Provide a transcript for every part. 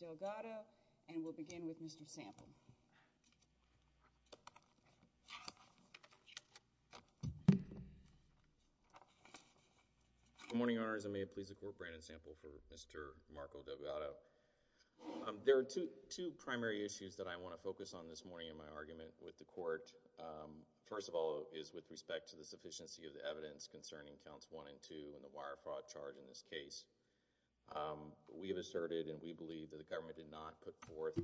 Delgado and we'll begin with Mr. Sample. Good morning, Your Honors. I may please the Court, Brandon Sample for Mr. Marco Delgado. There are two primary issues that I want to focus on this morning in my argument with the Court. First of all is with respect to the sufficiency of the evidence concerning counts 1 and 2 and the wire fraud charge in this case. We have asserted and we believe that the government did not put forth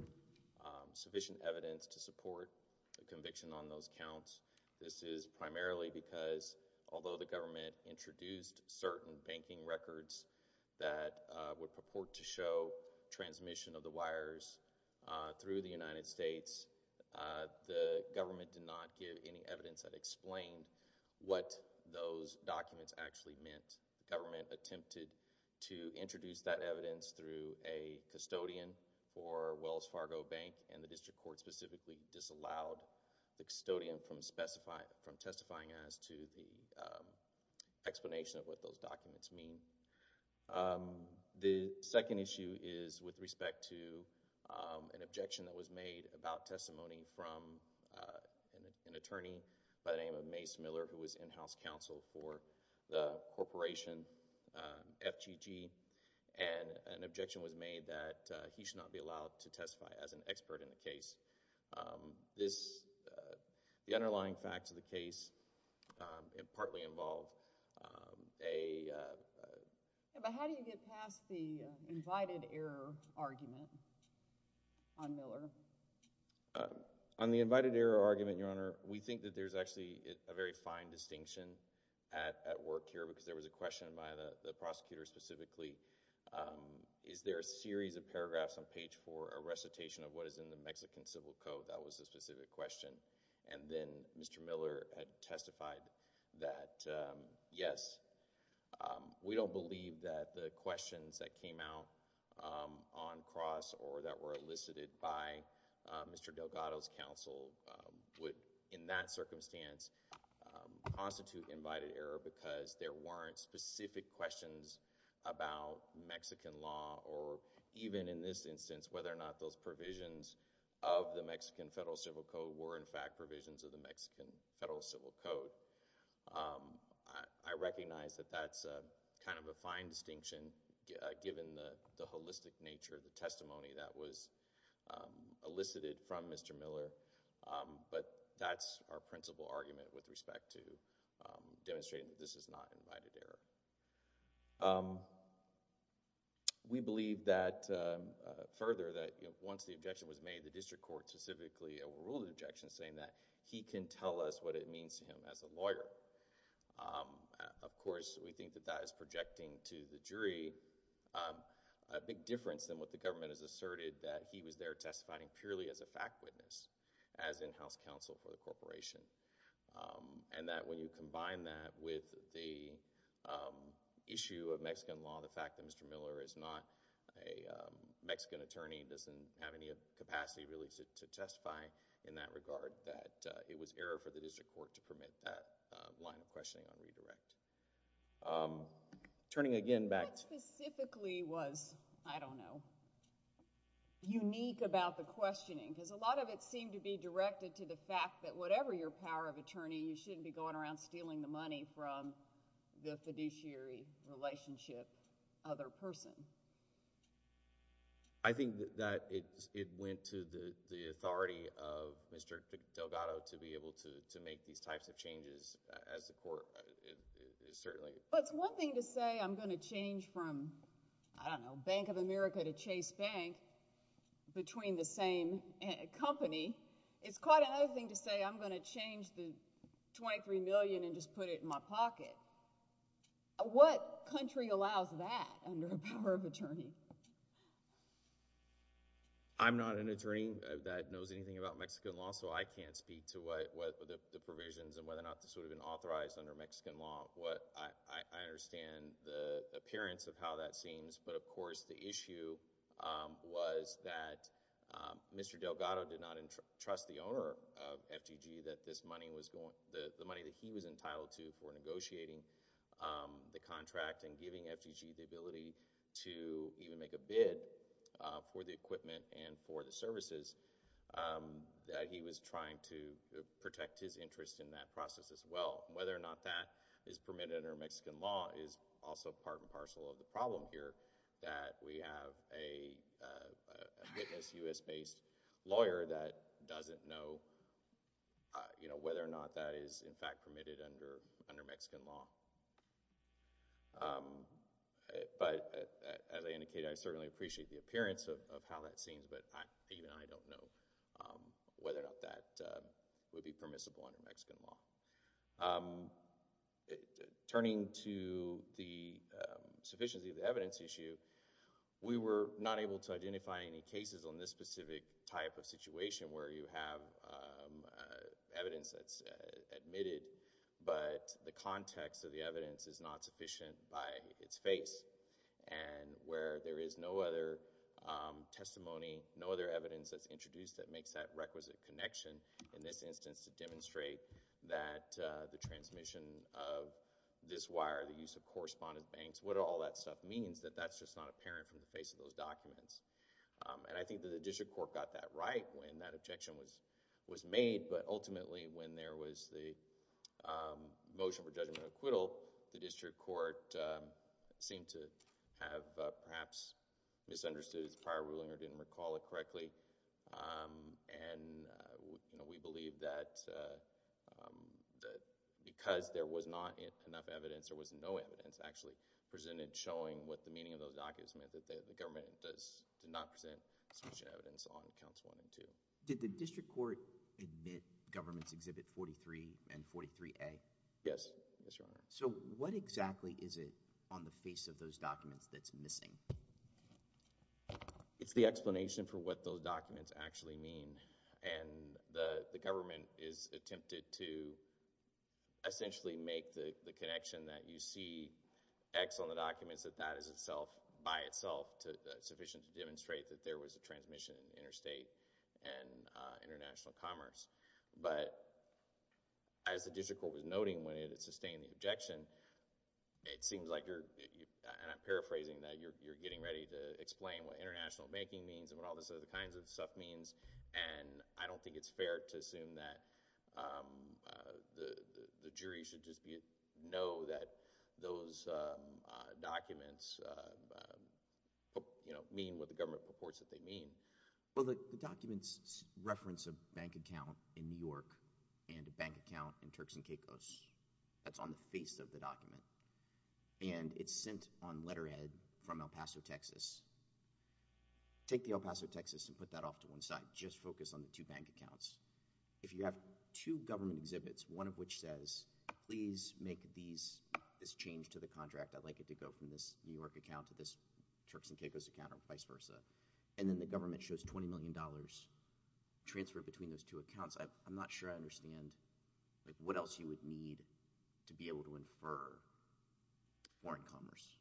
sufficient evidence to support the conviction on those counts. This is primarily because although the government introduced certain banking records that would purport to show transmission of the wires through the United States, the government did not give any evidence that explained what those documents actually meant. The government attempted to introduce that evidence through a custodian for Wells Fargo Bank and the District Court specifically disallowed the custodian from testifying as to the explanation of what those documents mean. The second issue is with respect to an objection that was made about testimony from an attorney by the name of Mace Miller who was in-house counsel for the corporation FGG and an objection was made that he should not be allowed to testify as an expert in the case. This, the underlying facts of the case, it partly involved a... But how do you get past the invited error argument on Miller? On the invited error argument, Your Honor, we think that there's actually a very fine distinction at work here because there was a question by the prosecutor specifically, is there a series of paragraphs on page four, a recitation of what is in the Mexican Civil Code? That was the specific question and then Mr. Miller had testified that, yes, we don't believe that the questions that came out on cross or that were elicited by Mr. Delgado's counsel would, in that constitute invited error because there weren't specific questions about Mexican law or even in this instance whether or not those provisions of the Mexican Federal Civil Code were in fact provisions of the Mexican Federal Civil Code. I recognize that that's kind of a fine distinction given the holistic nature of the testimony that was elicited from Mr. Miller, but that's our demonstration that this is not invited error. We believe that further that once the objection was made, the district court specifically ruled the objection saying that he can tell us what it means to him as a lawyer. Of course, we think that that is projecting to the jury a big difference than what the government has asserted that he was there testifying purely as a fact witness as in-house counsel for the corporation and that when you combine that with the issue of Mexican law, the fact that Mr. Miller is not a Mexican attorney, doesn't have any capacity really to testify in that regard, that it was error for the district court to permit that line of questioning on redirect. Turning again back to... What specifically was, I don't know, unique about the questioning? Because a lot of it is connected to the fact that whatever your power of attorney, you shouldn't be going around stealing the money from the fiduciary relationship other person. I think that it went to the authority of Mr. Delgado to be able to make these types of changes as the court certainly... It's one thing to say I'm going to change from, I don't know, Bank of Mexico, but another thing to say I'm going to change the $23 million and just put it in my pocket. What country allows that under a power of attorney? I'm not an attorney that knows anything about Mexican law, so I can't speak to what the provisions and whether or not this would have been authorized under Mexican law. I understand the appearance of how that seems, but of course the issue was that Mr. Delgado did not trust the owner of FDG that this money was... the money that he was entitled to for negotiating the contract and giving FDG the ability to even make a bid for the equipment and for the services that he was trying to protect his interest in that process as well. Whether or not that is permitted under Mexican law is also part and parcel of the problem here that we have a witness, U.S.-based lawyer that doesn't know whether or not that is in fact permitted under Mexican law. As I indicated, I certainly appreciate the appearance of how that seems, but even I don't know whether or not that would be permissible under Mexican law. Turning to the sufficiency of the evidence issue, we were not able to identify any cases on this specific type of situation where you have evidence that's admitted, but the context of the evidence is not sufficient by its face and where there is no other testimony, no other evidence that's introduced that demonstrates that the transmission of this wire, the use of correspondence banks, what all that stuff means, that that's just not apparent from the face of those documents. I think that the district court got that right when that objection was made, but ultimately, when there was the motion for judgment and acquittal, the district court seemed to have perhaps misunderstood its prior ruling or misinterpreted it. We believe that because there was not enough evidence, there was no evidence actually presented showing what the meaning of those documents meant, that the government did not present sufficient evidence on Counts 1 and 2. Did the district court admit Governments Exhibit 43 and 43A? Yes. Yes, Your Honor. What exactly is it on the face of those documents that's missing? It's the explanation for what those documents actually mean, and the government has attempted to essentially make the connection that you see X on the documents that that is itself, by itself, sufficient to demonstrate that there was a transmission in interstate and international commerce, but as the district court was noting when it sustained the objection, it seems like you're, and I'm paraphrasing that, you're getting ready to explain what international banking means and what all this other kinds of stuff means, and I don't think it's fair to assume that the jury should just know that those documents, you know, mean what the government purports that they mean. Well, the documents reference a bank account in New York and a bank account in Turks and Caicos that's on the face of the document, and it's sent on letterhead from El Paso, Texas. Take the El Paso, Texas, and put that off to one side. Just focus on the two bank accounts. If you have two government exhibits, one of which says, please make this change to the contract, I'd like it to go from this New York account to this Turks and Caicos account, or vice versa, and then the government shows $20 million transferred between those two accounts, I'm not sure I understand what else you would need to be able to infer foreign commerce.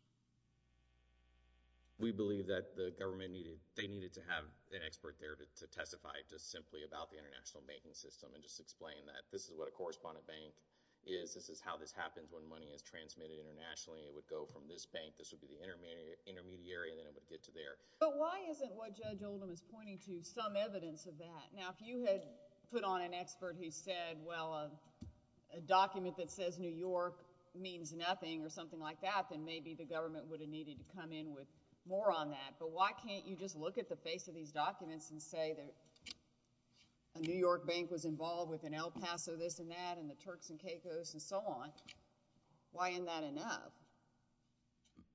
We believe that the government needed, they needed to have an expert there to testify just simply about the international banking system and just explain that this is what a correspondent bank is, this is how this happens when money is transmitted internationally, it would go from this bank, this would be the intermediary, and then it would get to there. But why isn't what Judge Oldham is pointing to some evidence of that? Now, if you had put on an expert who said, well, a document that says New York means nothing or something like that, then maybe the government would have needed to come in with more on that. But why can't you just look at the face of these documents and say that a New York bank was involved with an El Paso this and that and the Turks and Caicos and so on? Why isn't that enough?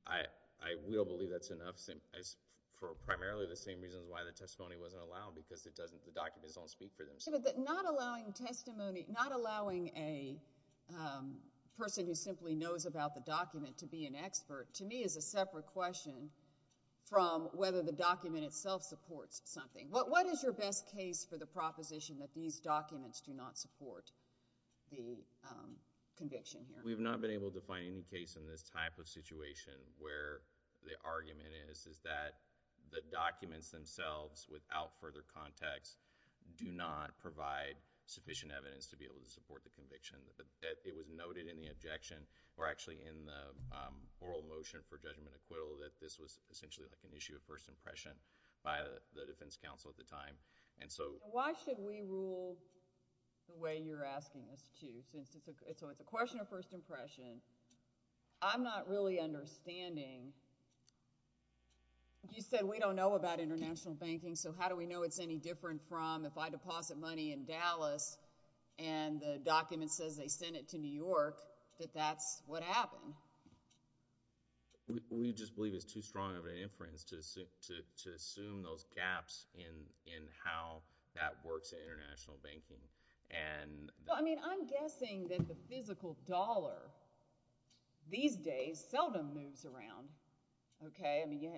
I will believe that's enough for primarily the same reasons why the documents don't speak for themselves. Not allowing testimony, not allowing a person who simply knows about the document to be an expert to me is a separate question from whether the document itself supports something. What is your best case for the proposition that these documents do not support the conviction here? We've not been able to find any case in this type of situation where the do not provide sufficient evidence to be able to support the conviction. It was noted in the objection, or actually in the oral motion for judgment acquittal, that this was essentially like an issue of first impression by the defense counsel at the time. Why should we rule the way you're asking us to since it's a question of first impression? I'm not really understanding. You said we don't know about international banking, so how do we know it's any different from if I deposit money in Dallas and the document says they send it to New York, that that's what happened? We just believe it's too strong of an inference to assume those gaps in how that works in international banking. I'm guessing that the physical dollar these days seldom moves around.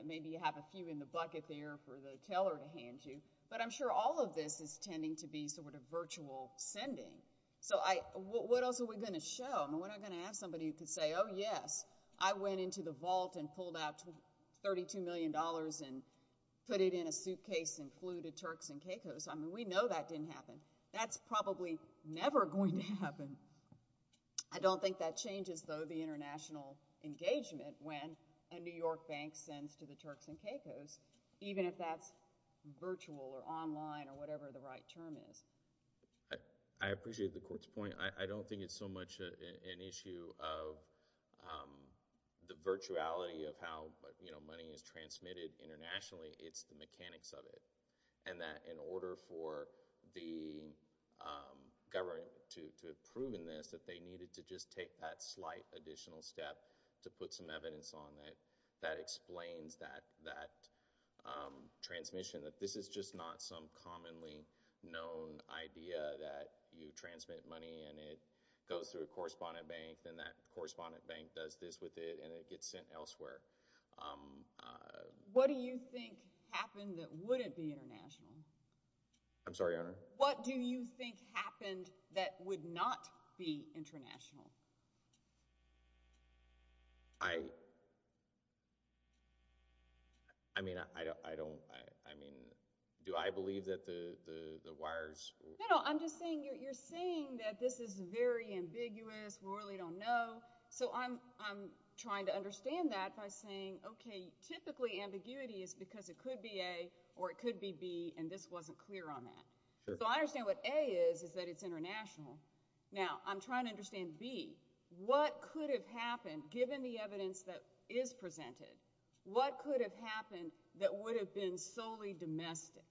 Maybe you have a few in the bucket there for the teller to hand you, but I'm sure all of this is tending to be virtual sending. What else are we going to show? We're not going to have somebody who can say, oh, yes, I went into the vault and pulled out $32 million and put it in a suitcase and flew to Turks and Caicos. We know that didn't happen. That's probably never going to happen. I don't think that changes, though, the international engagement when a New York bank sends to the Turks and Caicos, even if that's virtual or online or whatever the right term is. I appreciate the court's point. I don't think it's so much an issue of the virtuality of how money is transmitted internationally, it's the mechanics of it, and that in order for the government to have proven this, that they needed to just take that slight additional step to put some evidence on it that explains that transmission, that this is just not some commonly known idea that you transmit money and it goes through a correspondent bank and that correspondent bank does this with it and it gets sent elsewhere. What do you think happened that wouldn't be international? I'm sorry, Your Honor? What do you think happened that would not be international? I mean, I don't, I mean, do I believe that the wires? No, no, I'm just saying, you're saying that this is very ambiguous, we really don't know, so I'm trying to understand that by saying, okay, typically ambiguity is because it could be A or it could be B and this wasn't clear on that. So I understand what A is, is that it's international. Now I'm trying to understand B, what could have happened, given the evidence that is presented, what could have happened that would have been solely domestic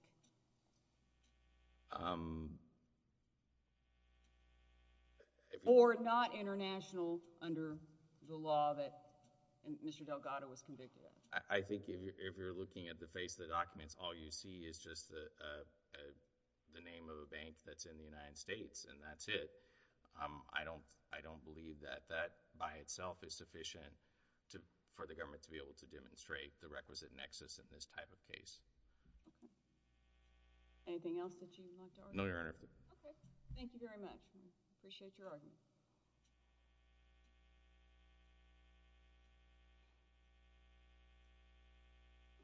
or not international under the law that Mr. Delgado was convicted of? I think if you're looking at the face of the documents, all you see is just the name of a bank that's in the United States and that's it. I don't believe that that by itself is sufficient for the government to be able to demonstrate the requisite nexus in this type of case. Anything else that you'd like to argue? No, Your Honor. Okay. Thank you very much. I appreciate your argument.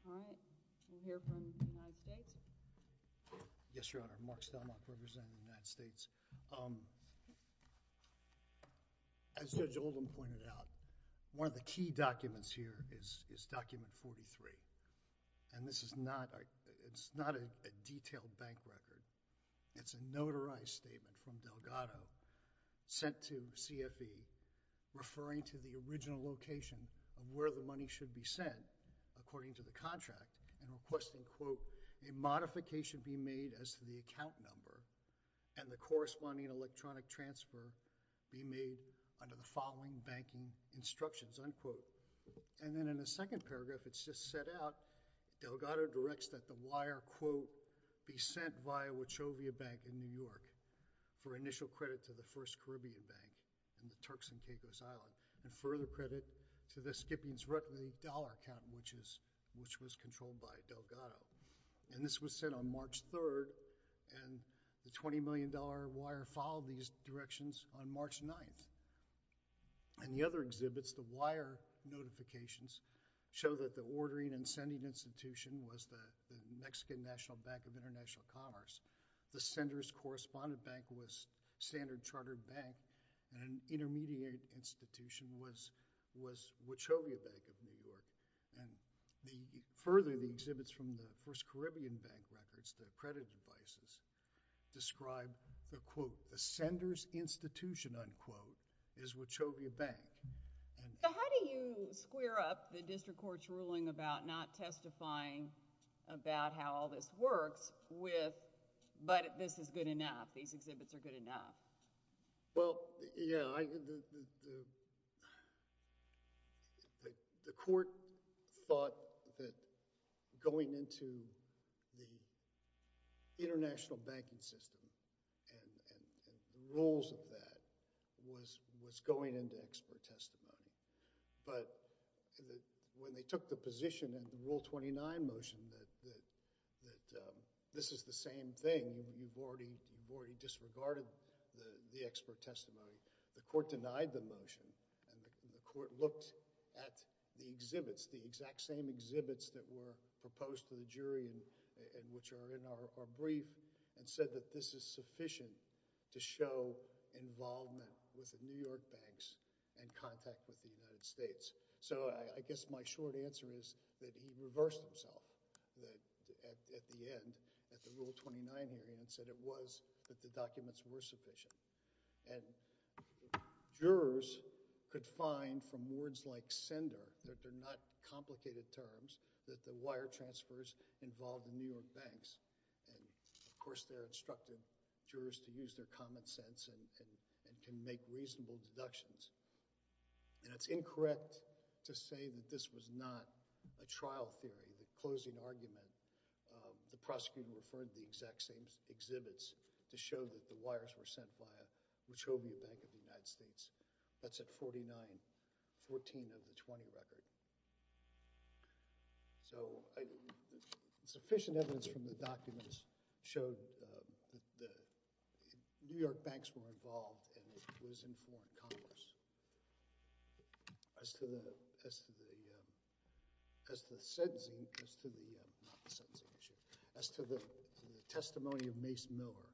All right. We'll hear from the United States. Yes, Your Honor. Mark Stelmach, representing the United States. As Judge Oldham pointed out, one of the key documents here is document 43, and this is not, it's not a detailed bank record, it's a notarized statement from Delgado sent to Delgado, according to the contract, and requesting, quote, a modification be made as to the account number and the corresponding electronic transfer be made under the following banking instructions, unquote. And then in the second paragraph, it's just set out, Delgado directs that the wire, quote, be sent via Wachovia Bank in New York for initial credit to the First Caribbean Bank in the Turks and Caicos Island, and further credit to the Skippings Rutley dollar account, which was controlled by Delgado. And this was sent on March 3rd, and the $20 million wire followed these directions on March 9th. In the other exhibits, the wire notifications show that the ordering and sending institution was the Mexican National Bank of International Commerce. The sender's correspondent bank was Standard Chartered Bank, and an intermediate institution was Wachovia Bank of New York, and further, the exhibits from the First Caribbean Bank records, the credit devices, describe the, quote, the sender's institution, unquote, is Wachovia Bank. So how do you square up the district court's ruling about not testifying about how all this works with, but this is good enough, these exhibits are good enough? Well, yeah, the court thought that going into the international banking system and the rules of that was going into expert testimony. But when they took the position in the Rule 29 motion that this is the same thing, you've already disregarded the expert testimony, the court denied the motion, and the court looked at the exhibits, the exact same exhibits that were proposed to the jury and which are in our brief, and said that this is sufficient to show involvement with the New York banks and contact with the United States. So I guess my short answer is that he reversed himself at the end, at the Rule 29 hearing, and said it was, that the documents were sufficient. And jurors could find from words like sender, that they're not complicated terms, that the wire transfers involved the New York banks. And of course, they're instructed, jurors, to use their common sense and can make reasonable deductions, and it's incorrect to say that this was not a trial theory. The closing argument, the prosecutor referred to the exact same exhibits to show that the wires were sent via Wachovia Bank of the United States. That's at 49-14 of the 20 record. So sufficient evidence from the documents showed that the New York banks were involved and it was in foreign commerce. As to the, as to the, as to the sentencing, as to the, not the sentencing issue, as to the testimony of Mace Miller,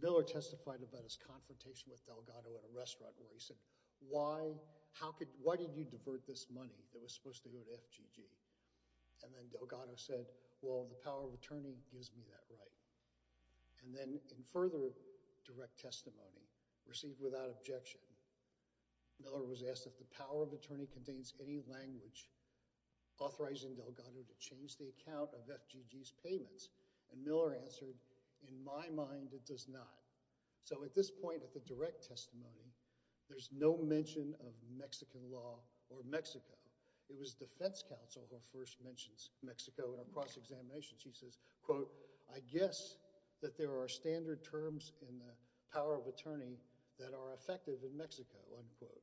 Miller testified about his confrontation with Delgado at a restaurant where he said, why, how could, why did you divert this money that was supposed to go to FGG? And then Delgado said, well, the power of attorney gives me that right. And then in further direct testimony, received without objection, Miller was asked if the power of attorney contains any language authorizing Delgado to change the account of FGG's payments. And Miller answered, in my mind, it does not. So at this point at the direct testimony, there's no mention of Mexican law or Mexico. It was defense counsel who first mentions Mexico in a cross-examination. She says, quote, I guess that there are standard terms in the power of attorney that are effective in Mexico, unquote.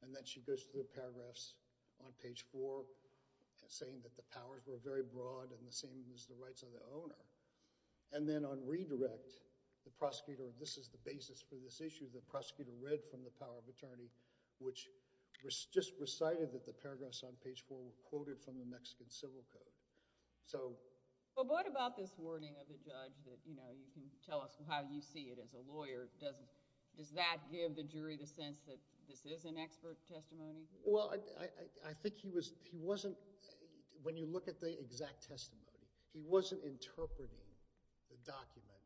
And then she goes through the paragraphs on page four saying that the powers were very broad and the same as the rights of the owner. And then on redirect, the prosecutor, this is the basis for this issue, the prosecutor read from the power of attorney, which just recited that the paragraphs on page four were quoted from the Mexican civil code. So. Well, what about this wording of the judge that, you know, you can tell us how you see it as a lawyer? Does that give the jury the sense that this is an expert testimony? Well, I think he wasn't, when you look at the exact testimony, he wasn't interpreting the document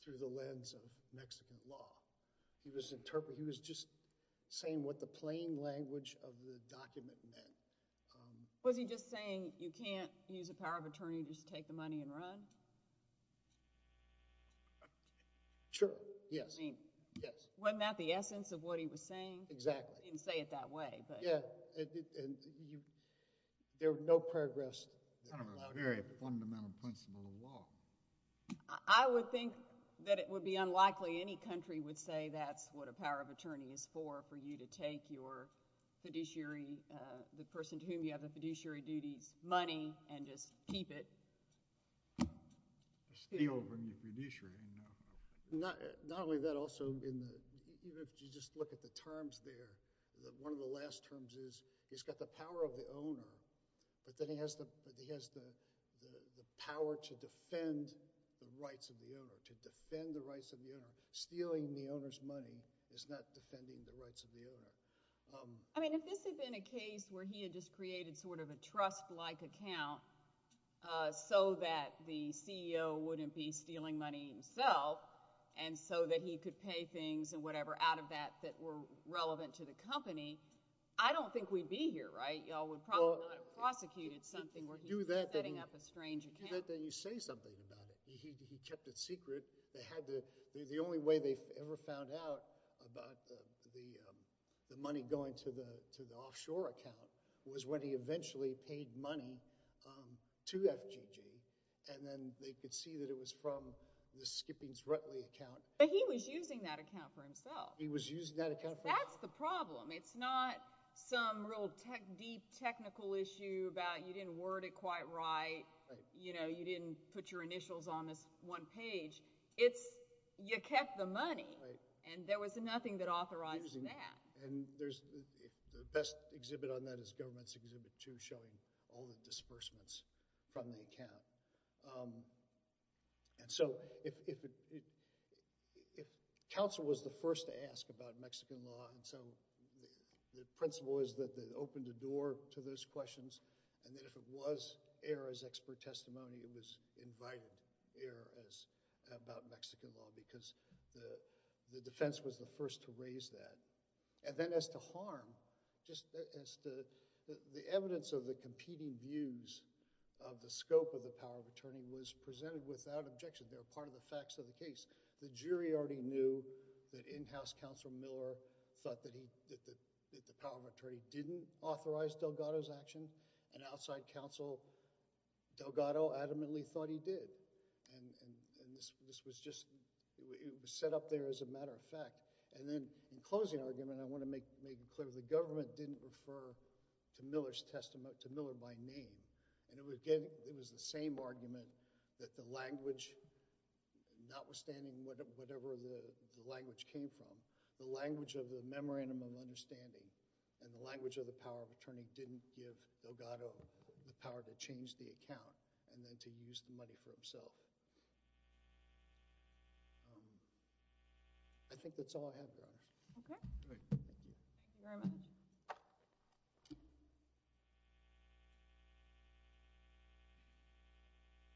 through the lens of Mexican law. He was interpreting, he was just saying what the plain language of the document meant. Was he just saying you can't use a power of attorney to just take the money and run? Sure, yes. I mean. Yes. Wasn't that the essence of what he was saying? Exactly. He didn't say it that way, but. Yeah, and you, there were no paragraphs. I don't know about here, but fundamental principle of law. I would think that it would be unlikely any country would say that's what a power of attorney is, a person to whom you have the fiduciary duties, money, and just keep it. Steal from the fiduciary, no. Not only that, also, even if you just look at the terms there, one of the last terms is he's got the power of the owner, but then he has the power to defend the rights of the owner, to defend the rights of the owner. Stealing the owner's money is not defending the rights of the owner. I mean, if this had been a case where he had just created sort of a trust-like account so that the CEO wouldn't be stealing money himself and so that he could pay things and whatever out of that that were relevant to the company, I don't think we'd be here, right? Y'all would probably not have prosecuted something where he was setting up a strange account. Do that, then you say something about it. He kept it secret. The only way they ever found out about the money going to the offshore account was when he eventually paid money to FGG, and then they could see that it was from the Skippings-Rutley account. But he was using that account for himself. He was using that account for himself. That's the problem. It's not some real deep technical issue about you didn't word it quite right, you didn't put your initials on this one page. It's you kept the money, and there was nothing that authorized that. And the best exhibit on that is Government's Exhibit 2 showing all the disbursements from the account. And so if counsel was the first to ask about Mexican law, and so the principle is that it opened the door to those questions, and that if it was air as expert testimony, it was invited air as about Mexican law because the defense was the first to raise that. And then as to harm, just as to the evidence of the competing views of the scope of the power of attorney was presented without objection. They were part of the facts of the case. The jury already knew that in-house counsel Miller thought that the power of attorney didn't authorize Delgado's action, and outside counsel Delgado adamantly thought he did. And this was just, it was set up there as a matter of fact. And then in closing argument, I want to make clear, the government didn't refer to Miller by name. And it was the same argument that the language, notwithstanding whatever the language came from, the language of the memorandum of understanding and the language of the power of attorney didn't give Delgado the power to change the account and then to use the money for himself. I think that's all I have, Your Honor. Okay. All right. Thank you. Thank you very much.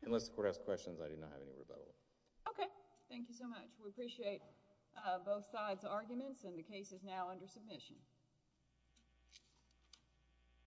Unless the court has questions, I do not have any rebuttal. Okay. Thank you so much. We appreciate both sides' arguments, and the case is now under submission.